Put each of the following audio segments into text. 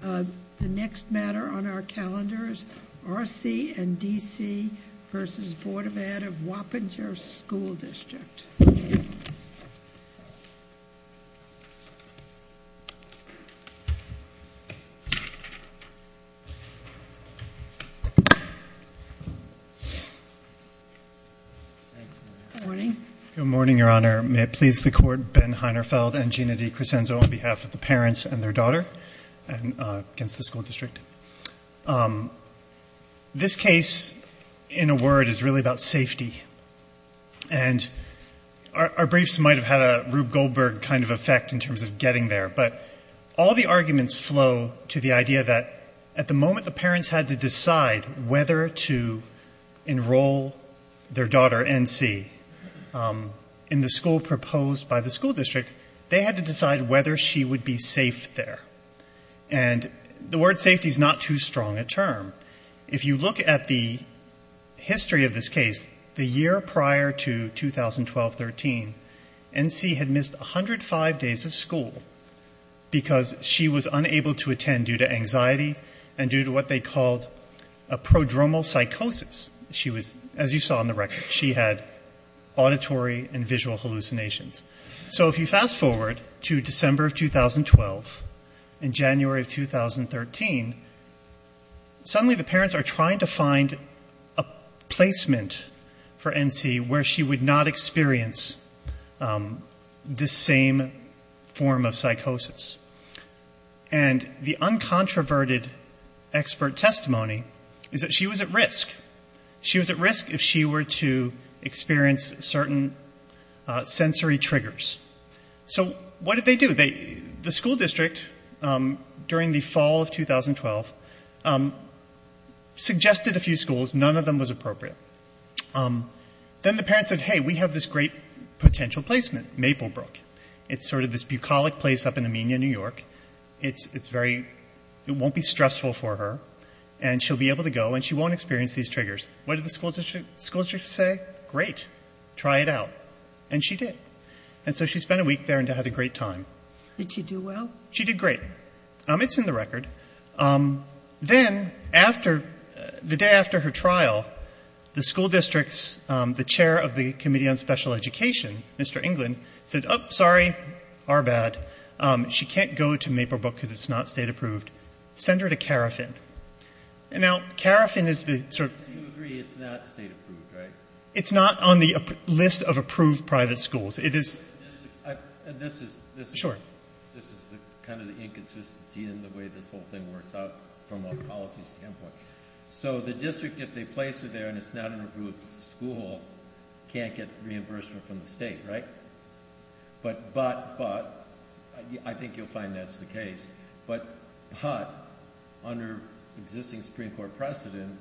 The next matter on our calendars, R.C. and D.C. v. Board of Ed. of Wappinger School District. Good morning. Good morning, Your Honor. May it please the Court, Ben Heinerfeld and Gina DiCresenzo on behalf of the parents and their daughter. And against the school district. This case, in a word, is really about safety. And our briefs might have had a Rube Goldberg kind of effect in terms of getting there. But all the arguments flow to the idea that at the moment the parents had to decide whether to enroll their daughter, N.C., in the school proposed by the school district, they had to decide whether she would be safe there. And the word safety is not too strong a term. If you look at the history of this case, the year prior to 2012-13, N.C. had missed 105 days of school because she was unable to attend due to anxiety and due to what they called a prodromal psychosis. She was, as you saw in the record, she had auditory and visual hallucinations. So if you fast forward to December of 2012 and January of 2013, suddenly the parents are trying to find a placement for N.C. where she would not experience this same form of psychosis. And the uncontroverted expert testimony is that she was at risk. She was at risk if she were to experience certain sensory triggers. So what did they do? The school district, during the fall of 2012, suggested a few schools. None of them was appropriate. Then the parents said, hey, we have this great potential placement, Maplebrook. It's sort of this bucolic place up in Amenia, New York. It's very, it won't be stressful for her. And she'll be able to go and she won't experience these triggers. What did the school district say? Great. Try it out. And she did. And so she spent a week there and had a great time. Did she do well? She did great. It's in the record. Then after, the day after her trial, the school district's, the chair of the Committee on Special Education, Mr. England, said, oh, sorry. Our bad. She can't go to Maplebrook because it's not state approved. Send her to Carafin. And now, Carafin is the sort of. You agree it's not state approved, right? It's not on the list of approved private schools. It is. And this is. Sure. This is kind of the inconsistency in the way this whole thing works out from a policy standpoint. So the district, if they place her there and it's not an approved school, can't get reimbursement from the state, right? But, but, but, I think you'll find that's the case. But, but, under existing Supreme Court precedent,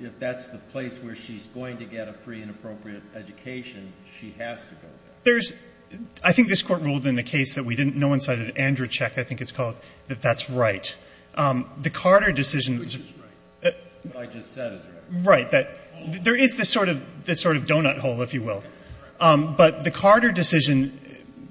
if that's the place where she's going to get a free and appropriate education, she has to go there. There's. I think this Court ruled in a case that we didn't know inside of Andrzejczyk, I think it's called, that that's right. The Carter decision. Which is right. What I just said is right. Right. That there is this sort of, this sort of donut hole, if you will. But the Carter decision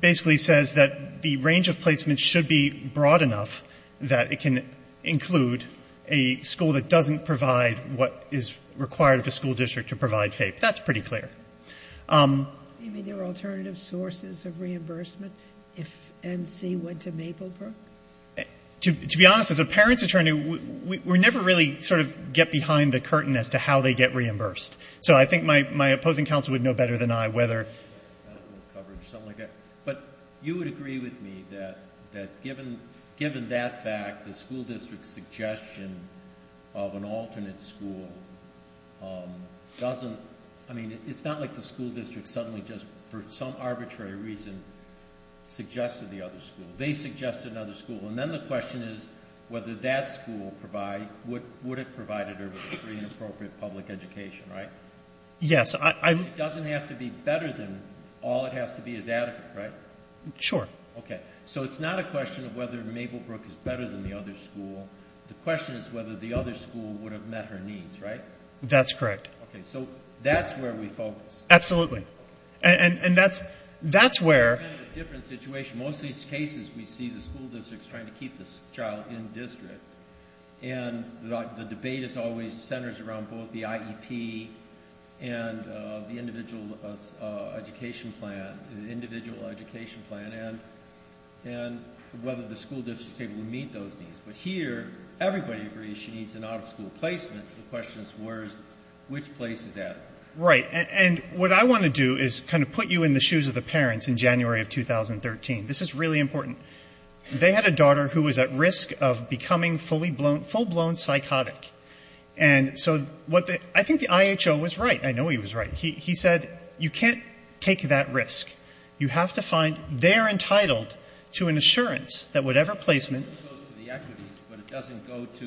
basically says that the range of placement should be broad enough that it can include a school that doesn't provide what is required of a school district to provide FAPE. That's pretty clear. You mean there are alternative sources of reimbursement if NC went to Maplebrook? To be honest, as a parent's attorney, we never really sort of get behind the curtain as to how they get reimbursed. So I think my opposing counsel would know better than I whether. But you would agree with me that given that fact, the school district's suggestion of an alternate school doesn't. I mean, it's not like the school district suddenly just for some arbitrary reason suggested the other school. They suggested another school. And then the question is whether that school would have provided a free and appropriate public education, right? Yes. It doesn't have to be better than all it has to be is adequate, right? Sure. Okay. So it's not a question of whether Maplebrook is better than the other school. The question is whether the other school would have met her needs, right? That's correct. Okay. So that's where we focus. Absolutely. And that's where. Most of these cases we see the school district is trying to keep the child in district. And the debate is always centers around both the IEP and the individual education plan, individual education plan, and whether the school district is able to meet those needs. But here, everybody agrees she needs an out-of-school placement. The question is where is, which place is that? Right. And what I want to do is kind of put you in the shoes of the parents in January of 2013. This is really important. They had a daughter who was at risk of becoming full-blown psychotic. And so I think the IHO was right. I know he was right. He said you can't take that risk. You have to find they're entitled to an assurance that whatever placement. It goes to the equities, but it doesn't go to,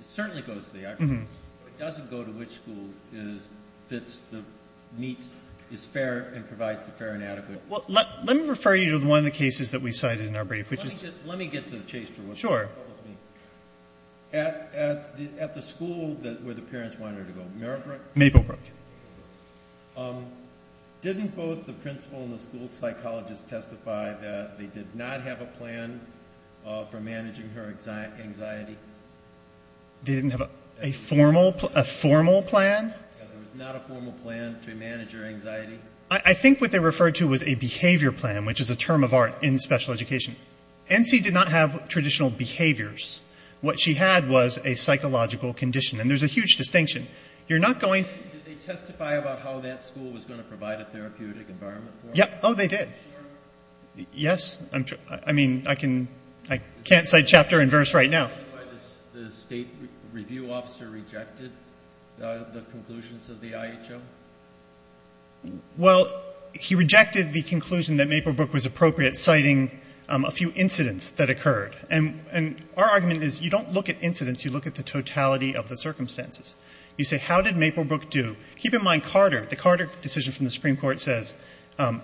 it certainly goes to the equities, but it doesn't go to which school is, fits, meets, is fair and provides the fair and adequate. Well, let me refer you to one of the cases that we cited in our brief, which is. Let me get to the chase for a second. Sure. At the school where the parents wanted her to go, Maplebrook. Maplebrook. Didn't both the principal and the school psychologist testify that they did not have a plan for managing her anxiety? They didn't have a formal plan? There was not a formal plan to manage her anxiety. I think what they referred to was a behavior plan, which is a term of art in special education. NC did not have traditional behaviors. What she had was a psychological condition. And there's a huge distinction. You're not going. Did they testify about how that school was going to provide a therapeutic environment for her? Yeah. Oh, they did. Yes. I mean, I can't cite chapter and verse right now. Is that why the state review officer rejected the conclusions of the IHO? Well, he rejected the conclusion that Maplebrook was appropriate, citing a few incidents that occurred. And our argument is you don't look at incidents, you look at the totality of the circumstances. You say, how did Maplebrook do? Keep in mind Carter. The Carter decision from the Supreme Court says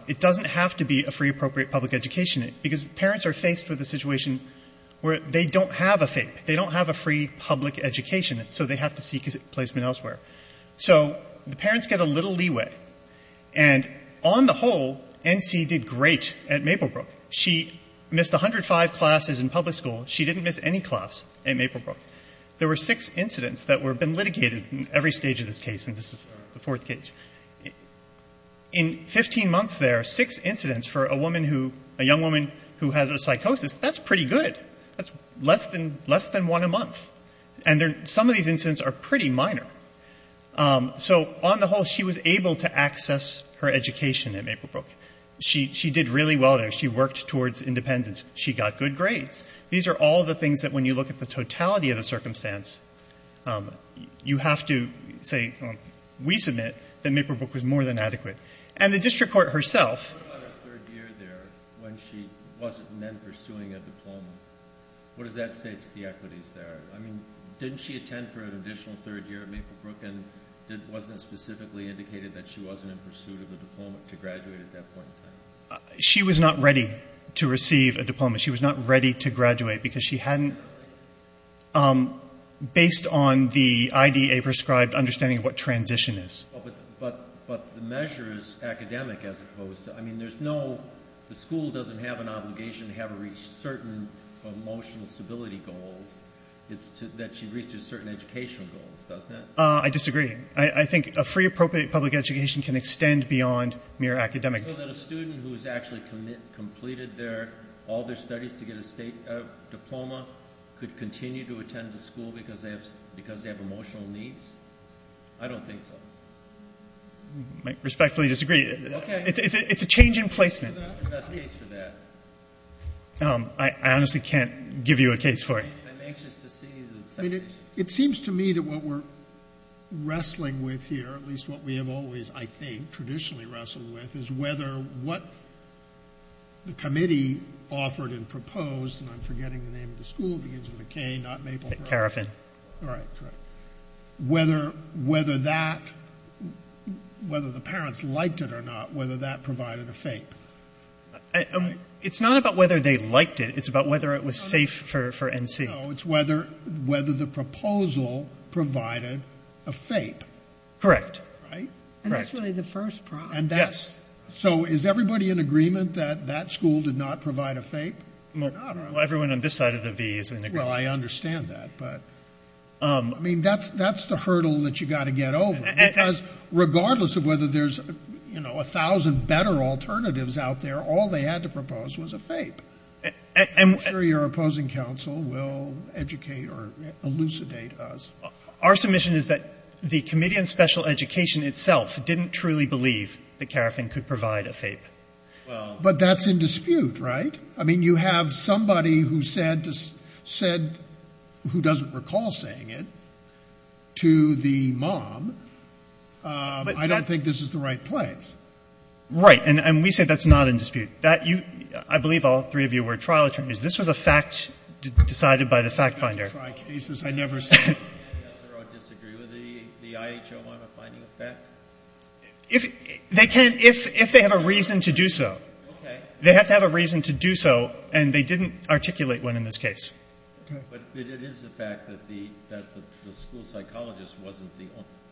it doesn't have to be a free appropriate public education because parents are faced with a situation where they don't have a FAPE. They don't have a free public education, so they have to seek a placement elsewhere. So the parents get a little leeway. And on the whole, NC did great at Maplebrook. She missed 105 classes in public school. She didn't miss any class at Maplebrook. There were six incidents that have been litigated in every stage of this case, and this is the fourth case. In 15 months there, six incidents for a young woman who has a psychosis, that's pretty good. That's less than one a month. And some of these incidents are pretty minor. So on the whole, she was able to access her education at Maplebrook. She did really well there. She worked towards independence. She got good grades. These are all the things that when you look at the totality of the circumstance, you have to say, we submit that Maplebrook was more than adequate. And the district court herself. What about her third year there when she wasn't then pursuing a diploma? What does that say to the equities there? I mean, didn't she attend for an additional third year at Maplebrook, and wasn't it specifically indicated that she wasn't in pursuit of a diploma to graduate at that point in time? She was not ready to receive a diploma. She was not ready to graduate because she hadn't, based on the IDA prescribed understanding of what transition is. But the measure is academic as opposed to, I mean, there's no, the school doesn't have an obligation to have her reach certain emotional stability goals. It's that she reaches certain educational goals, doesn't it? I disagree. I think a free, appropriate public education can extend beyond mere academic. So that a student who has actually completed their, all their studies to get a state diploma, could continue to attend a school because they have emotional needs? I don't think so. I respectfully disagree. Okay. It's a change in placement. That's the best case for that. I honestly can't give you a case for it. I'm anxious to see the second. It seems to me that what we're wrestling with here, at least what we have always, I think, traditionally wrestled with is whether what the committee offered and proposed, and I'm forgetting the name of the school. It begins with a K, not Maple Grove. Cariffin. Right, right. Whether that, whether the parents liked it or not, whether that provided a FAPE. It's not about whether they liked it. It's about whether it was safe for NC. No, it's whether the proposal provided a FAPE. Correct. Right? And that's really the first problem. Yes. So is everybody in agreement that that school did not provide a FAPE? Well, everyone on this side of the V is in agreement. Well, I understand that. But, I mean, that's the hurdle that you've got to get over. Because regardless of whether there's, you know, a thousand better alternatives out there, all they had to propose was a FAPE. I'm sure your opposing counsel will educate or elucidate us. Our submission is that the committee on special education itself didn't truly believe that Cariffin could provide a FAPE. But that's in dispute, right? I mean, you have somebody who said, who doesn't recall saying it, to the mom. I don't think this is the right place. Right. And we say that's not in dispute. I believe all three of you were trial attorneys. This was a fact decided by the fact finder. I disagree with the IHO on a finding of fact. They can if they have a reason to do so. Okay. They have to have a reason to do so. And they didn't articulate one in this case. Okay. But it is a fact that the school psychologist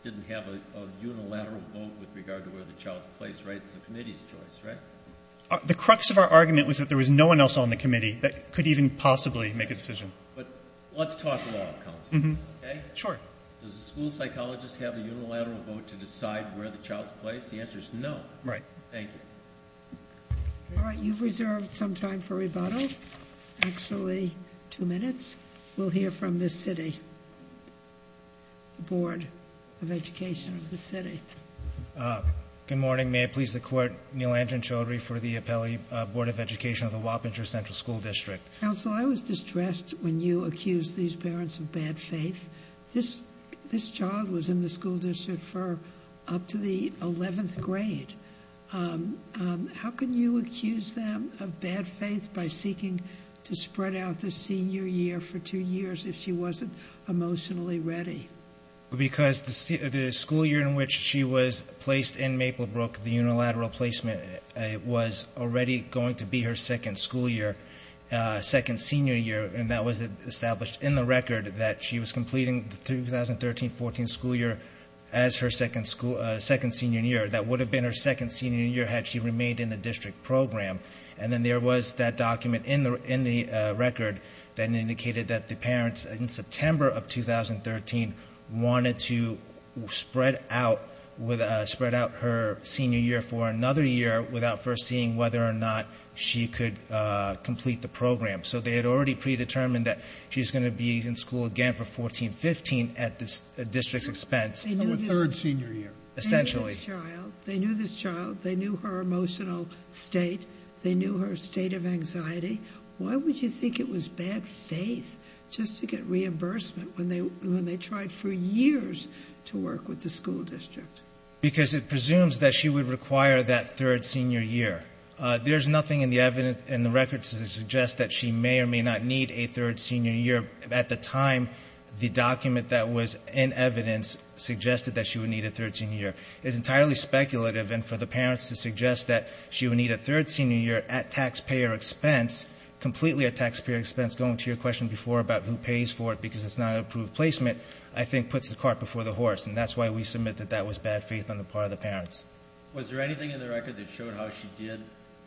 didn't have a unilateral vote with regard to where the child's place, right? It's the committee's choice, right? The crux of our argument was that there was no one else on the committee that could even possibly make a decision. But let's talk along, counsel. Okay? Sure. Does the school psychologist have a unilateral vote to decide where the child's place? The answer is no. Right. Thank you. All right. You've reserved some time for rebuttal. Actually, two minutes. We'll hear from the city, the Board of Education of the city. Good morning. May it please the Court, Neal Andren Chaudhry for the Appellate Board of Education of the Wappinger Central School District. Counsel, I was distressed when you accused these parents of bad faith. This child was in the school district for up to the 11th grade. How can you accuse them of bad faith by seeking to spread out the senior year for two years if she wasn't emotionally ready? Because the school year in which she was placed in Maplebrook, the unilateral placement, was already going to be her second school year, second senior year, and that was established in the record that she was completing the 2013-14 school year as her second senior year. That would have been her second senior year had she remained in the district program. And then there was that document in the record that indicated that the parents in September of 2013 wanted to spread out her senior year for another year without foreseeing whether or not she could complete the program. So they had already predetermined that she was going to be in school again for 14-15 at the district's expense. Her third senior year. Essentially. They knew this child. They knew this child. They knew her state. They knew her state of anxiety. Why would you think it was bad faith just to get reimbursement when they tried for years to work with the school district? Because it presumes that she would require that third senior year. There's nothing in the record to suggest that she may or may not need a third senior year. At the time, the document that was in evidence suggested that she would need a third senior year. It's entirely speculative. And for the parents to suggest that she would need a third senior year at taxpayer expense, completely at taxpayer expense, going to your question before about who pays for it because it's not an approved placement, I think puts the cart before the horse. And that's why we submit that that was bad faith on the part of the parents. Was there anything in the record that showed how she did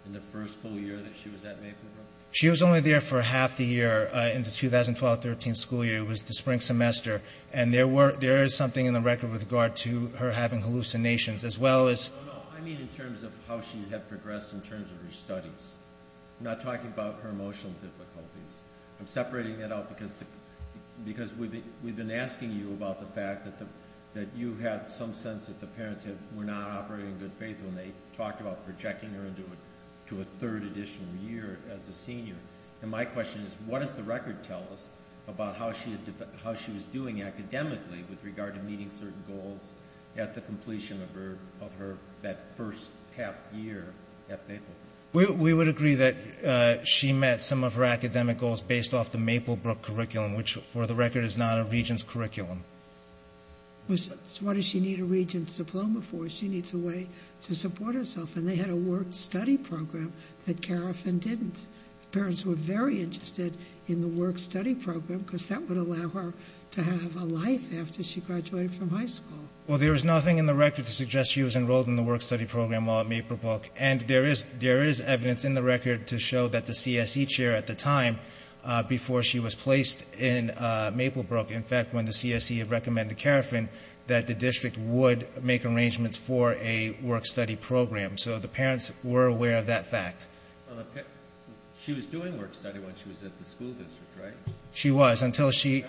in the first full year that she was at Maple Grove? She was only there for half the year in the 2012-13 school year. It was the spring semester. And there is something in the record with regard to her having hallucinations as well as... No, no, I mean in terms of how she had progressed in terms of her studies. I'm not talking about her emotional difficulties. I'm separating that out because we've been asking you about the fact that you had some sense that the parents were not operating in good faith when they talked about projecting her into a third additional year as a senior. And my question is what does the record tell us about how she was doing academically with regard to meeting certain goals at the completion of that first half year at Maple Grove? We would agree that she met some of her academic goals based off the Maple Brook curriculum, which for the record is not a regent's curriculum. So what does she need a regent's diploma for? She needs a way to support herself. And they had a work-study program that Kerafin didn't. Parents were very interested in the work-study program because that would allow her to have a life after she graduated from high school. Well, there is nothing in the record to suggest she was enrolled in the work-study program while at Maple Brook. And there is evidence in the record to show that the CSE chair at the time before she was placed in Maple Brook. In fact, when the CSE had recommended to Kerafin that the district would make arrangements for a work-study program. So the parents were aware of that fact. She was doing work-study when she was at the school district, right? She was. That was a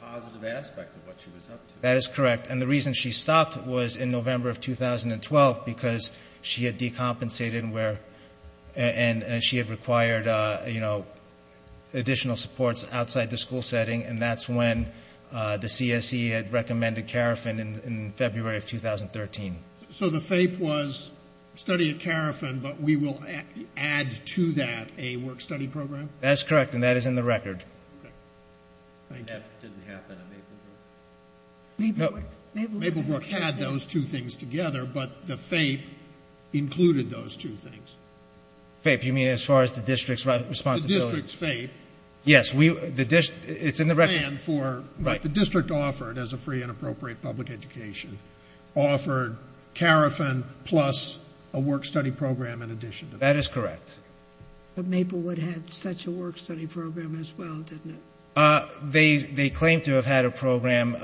positive aspect of what she was up to. That is correct. And the reason she stopped was in November of 2012 because she had decompensated and she had required additional supports outside the school setting. And that's when the CSE had recommended Kerafin in February of 2013. So the FAPE was study at Kerafin, but we will add to that a work-study program? That's correct, and that is in the record. Okay. Thank you. And that didn't happen at Maple Brook? Maple Brook had those two things together, but the FAPE included those two things. FAPE, you mean as far as the district's responsibility? The district's FAPE. Yes, it's in the record. The district offered, as a free and appropriate public education, offered Kerafin plus a work-study program in addition to that. That is correct. But Maple would have such a work-study program as well, didn't it? They claimed to have had a program.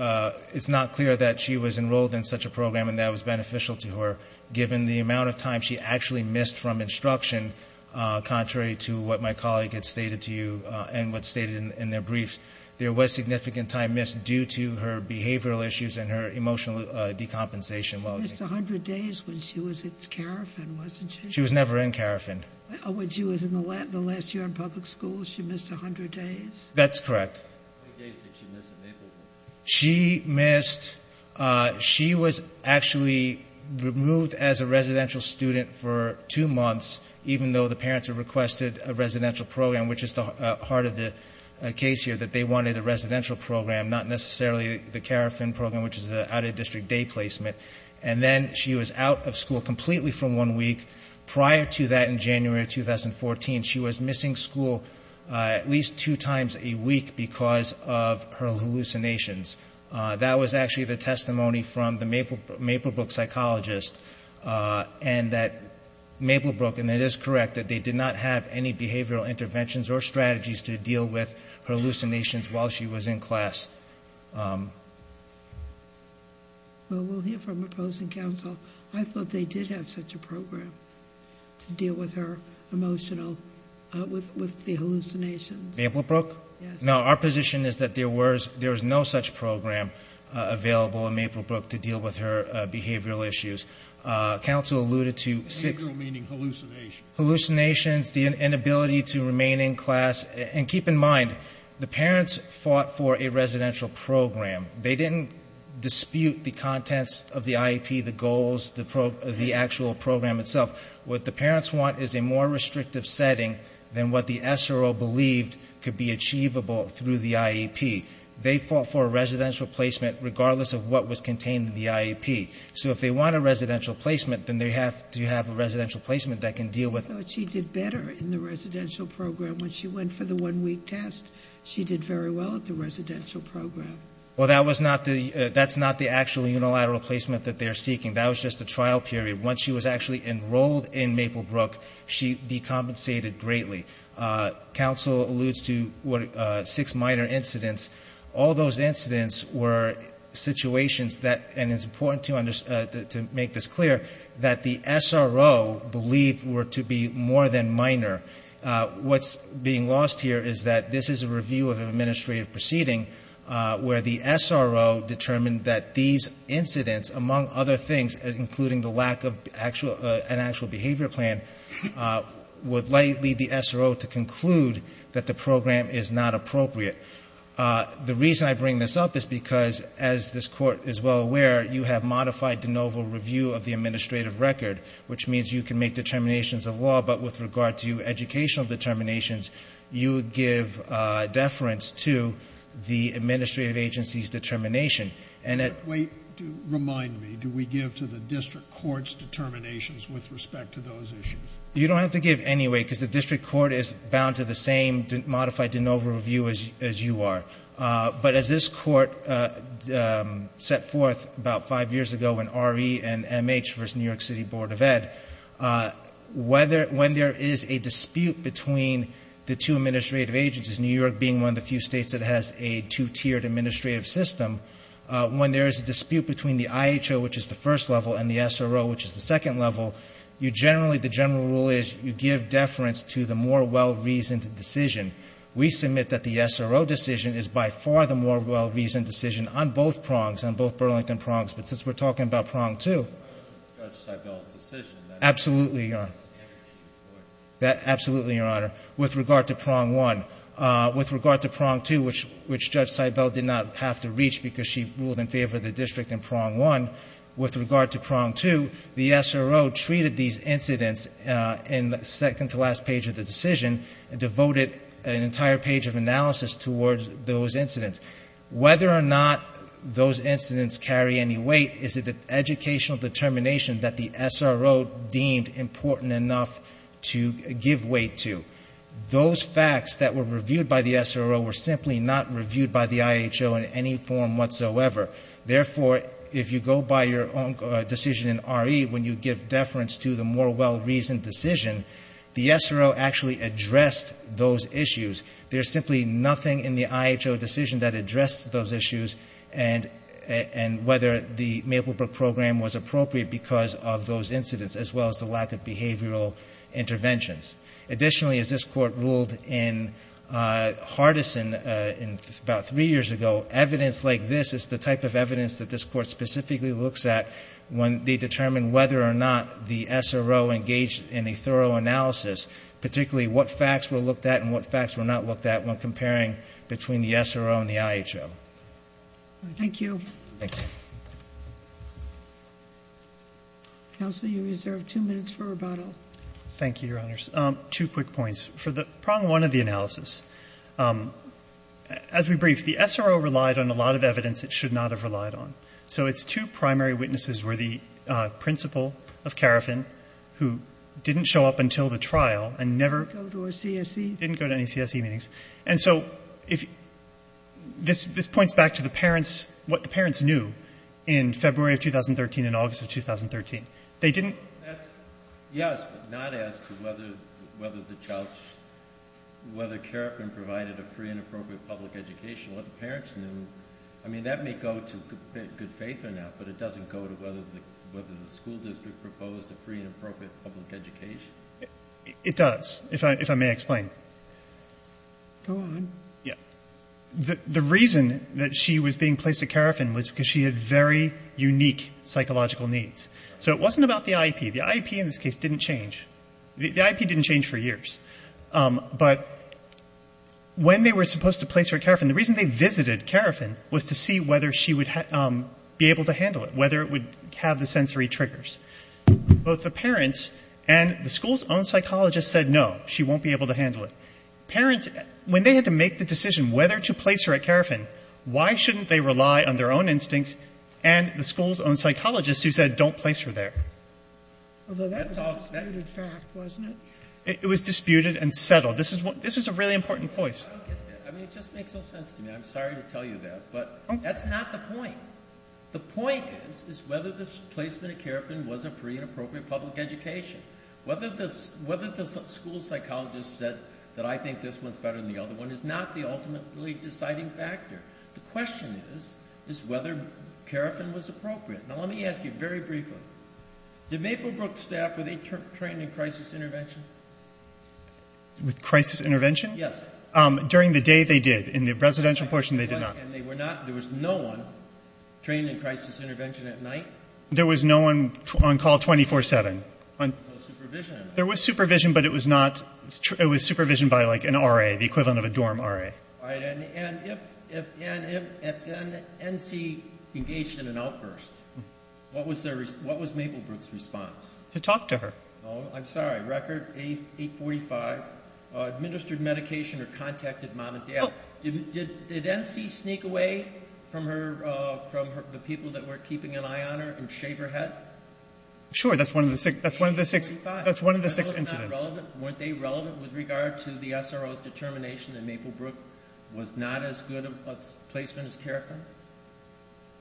It's not clear that she was enrolled in such a program and that was beneficial to her, given the amount of time she actually missed from instruction, contrary to what my colleague had stated to you and what's stated in their briefs. There was significant time missed due to her behavioral issues and her emotional decompensation. She missed 100 days when she was at Kerafin, wasn't she? She was never in Kerafin. When she was in the last year in public school, she missed 100 days? That's correct. How many days did she miss at Maple Brook? She was actually removed as a residential student for two months, even though the parents had requested a residential program, which is the heart of the case here, that they wanted a residential program, not necessarily the Kerafin program, which is an out-of-district day placement. And then she was out of school completely for one week. Prior to that, in January of 2014, she was missing school at least two times a week because of her hallucinations. That was actually the testimony from the Maple Brook psychologist, and that Maple Brook, and it is correct that they did not have any behavioral interventions or strategies to deal with her hallucinations while she was in class. Well, we'll hear from opposing counsel. I thought they did have such a program to deal with the hallucinations. Maple Brook? Yes. Now, our position is that there was no such program available in Maple Brook to deal with her behavioral issues. Counsel alluded to six. Behavioral meaning hallucinations. Hallucinations, the inability to remain in class. And keep in mind, the parents fought for a residential program. They didn't dispute the contents of the IEP, the goals, the actual program itself. What the parents want is a more restrictive setting than what the SRO believed could be achievable through the IEP. They fought for a residential placement regardless of what was contained in the IEP. So if they want a residential placement, then they have to have a residential placement that can deal with it. I thought she did better in the residential program when she went for the one-week test. She did very well at the residential program. Well, that's not the actual unilateral placement that they're seeking. That was just a trial period. Once she was actually enrolled in Maple Brook, she decompensated greatly. Counsel alludes to six minor incidents. All those incidents were situations that, and it's important to make this clear, that the SRO believed were to be more than minor. What's being lost here is that this is a review of an administrative proceeding where the SRO determined that these incidents, among other things, including the lack of an actual behavior plan, would likely lead the SRO to conclude that the program is not appropriate. The reason I bring this up is because, as this Court is well aware, you have modified de novo review of the administrative record, which means you can make determinations of law, but with regard to educational determinations, you would give deference to the administrative agency's determination. Wait. Remind me. Do we give to the district court's determinations with respect to those issues? You don't have to give anyway because the district court is bound to the same modified de novo review as you are. But as this Court set forth about five years ago in RE and MH versus New York City Board of Ed, when there is a dispute between the two administrative agencies, New York being one of the few states that has a two-tiered administrative system, when there is a dispute between the IHO, which is the first level, and the SRO, which is the second level, the general rule is you give deference to the more well-reasoned decision. We submit that the SRO decision is by far the more well-reasoned decision on both prongs, on both Burlington prongs, but since we're talking about prong two. Judge Seibel's decision. Absolutely, Your Honor. Absolutely, Your Honor. With regard to prong one, with regard to prong two, which Judge Seibel did not have to reach because she ruled in favor of the district in prong one, with regard to prong two, the SRO treated these incidents in the second to last page of the decision and devoted an entire page of analysis towards those incidents. Whether or not those incidents carry any weight is an educational determination that the SRO deemed important enough to give weight to. Those facts that were reviewed by the SRO were simply not reviewed by the IHO in any form whatsoever. Therefore, if you go by your own decision in RE, when you give deference to the more well-reasoned decision, the SRO actually addressed those issues. There's simply nothing in the IHO decision that addressed those issues and whether the Maplebrook program was appropriate because of those incidents, as well as the lack of behavioral interventions. Additionally, as this Court ruled in Hardison about three years ago, evidence like this is the type of evidence that this Court specifically looks at when they determine whether or not the SRO engaged in a thorough analysis, particularly what facts were looked at and what facts were not looked at when comparing between the SRO and the IHO. Thank you. Thank you. Counsel, you reserve two minutes for rebuttal. Thank you, Your Honors. Two quick points. For the prong one of the analysis, as we briefed, the SRO relied on a lot of evidence it should not have relied on. So its two primary witnesses were the principal of Carafin, who didn't show up until the trial and never go to a CSE. Didn't go to any CSE meetings. And so this points back to what the parents knew in February of 2013 and August of 2013. Yes, but not as to whether Carafin provided a free and appropriate public education. What the parents knew, I mean, that may go to good faith or not, but it doesn't go to whether the school district proposed a free and appropriate public education. It does, if I may explain. Go on. The reason that she was being placed at Carafin was because she had very unique psychological needs. So it wasn't about the IEP. The IEP in this case didn't change. The IEP didn't change for years. But when they were supposed to place her at Carafin, the reason they visited Carafin was to see whether she would be able to handle it, whether it would have the sensory triggers. Both the parents and the school's own psychologist said no, she won't be able to handle it. Parents, when they had to make the decision whether to place her at Carafin, why shouldn't they rely on their own instinct and the school's own psychologist who said don't place her there? Although that was a disputed fact, wasn't it? It was disputed and settled. This is a really important point. I don't get that. I mean, it just makes no sense to me. I'm sorry to tell you that. But that's not the point. The point is, is whether the placement at Carafin was a free and appropriate public education. Whether the school psychologist said that I think this one's better than the other one is not the ultimately deciding factor. The question is, is whether Carafin was appropriate. Now, let me ask you very briefly. Did Maplebrook staff, were they trained in crisis intervention? With crisis intervention? Yes. During the day, they did. In the residential portion, they did not. And they were not, there was no one trained in crisis intervention at night? There was no one on call 24-7. No supervision. There was supervision, but it was not, it was supervision by like an RA, the equivalent of a dorm RA. And if NC engaged in an outburst, what was Maplebrook's response? To talk to her. Oh, I'm sorry. Administered medication or contacted mom and dad. Did NC sneak away from the people that were keeping an eye on her and shave her head? Sure, that's one of the six incidents. Weren't they relevant with regard to the SRO's determination that Maplebrook was not as good a placement as Carafin?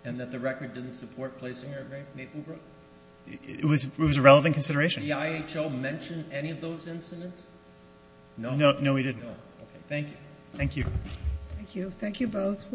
And that the record didn't support placing her at Maplebrook? It was a relevant consideration. Did the IHO mention any of those incidents? No. No, we didn't. Okay, thank you. Thank you. Thank you. Thank you both.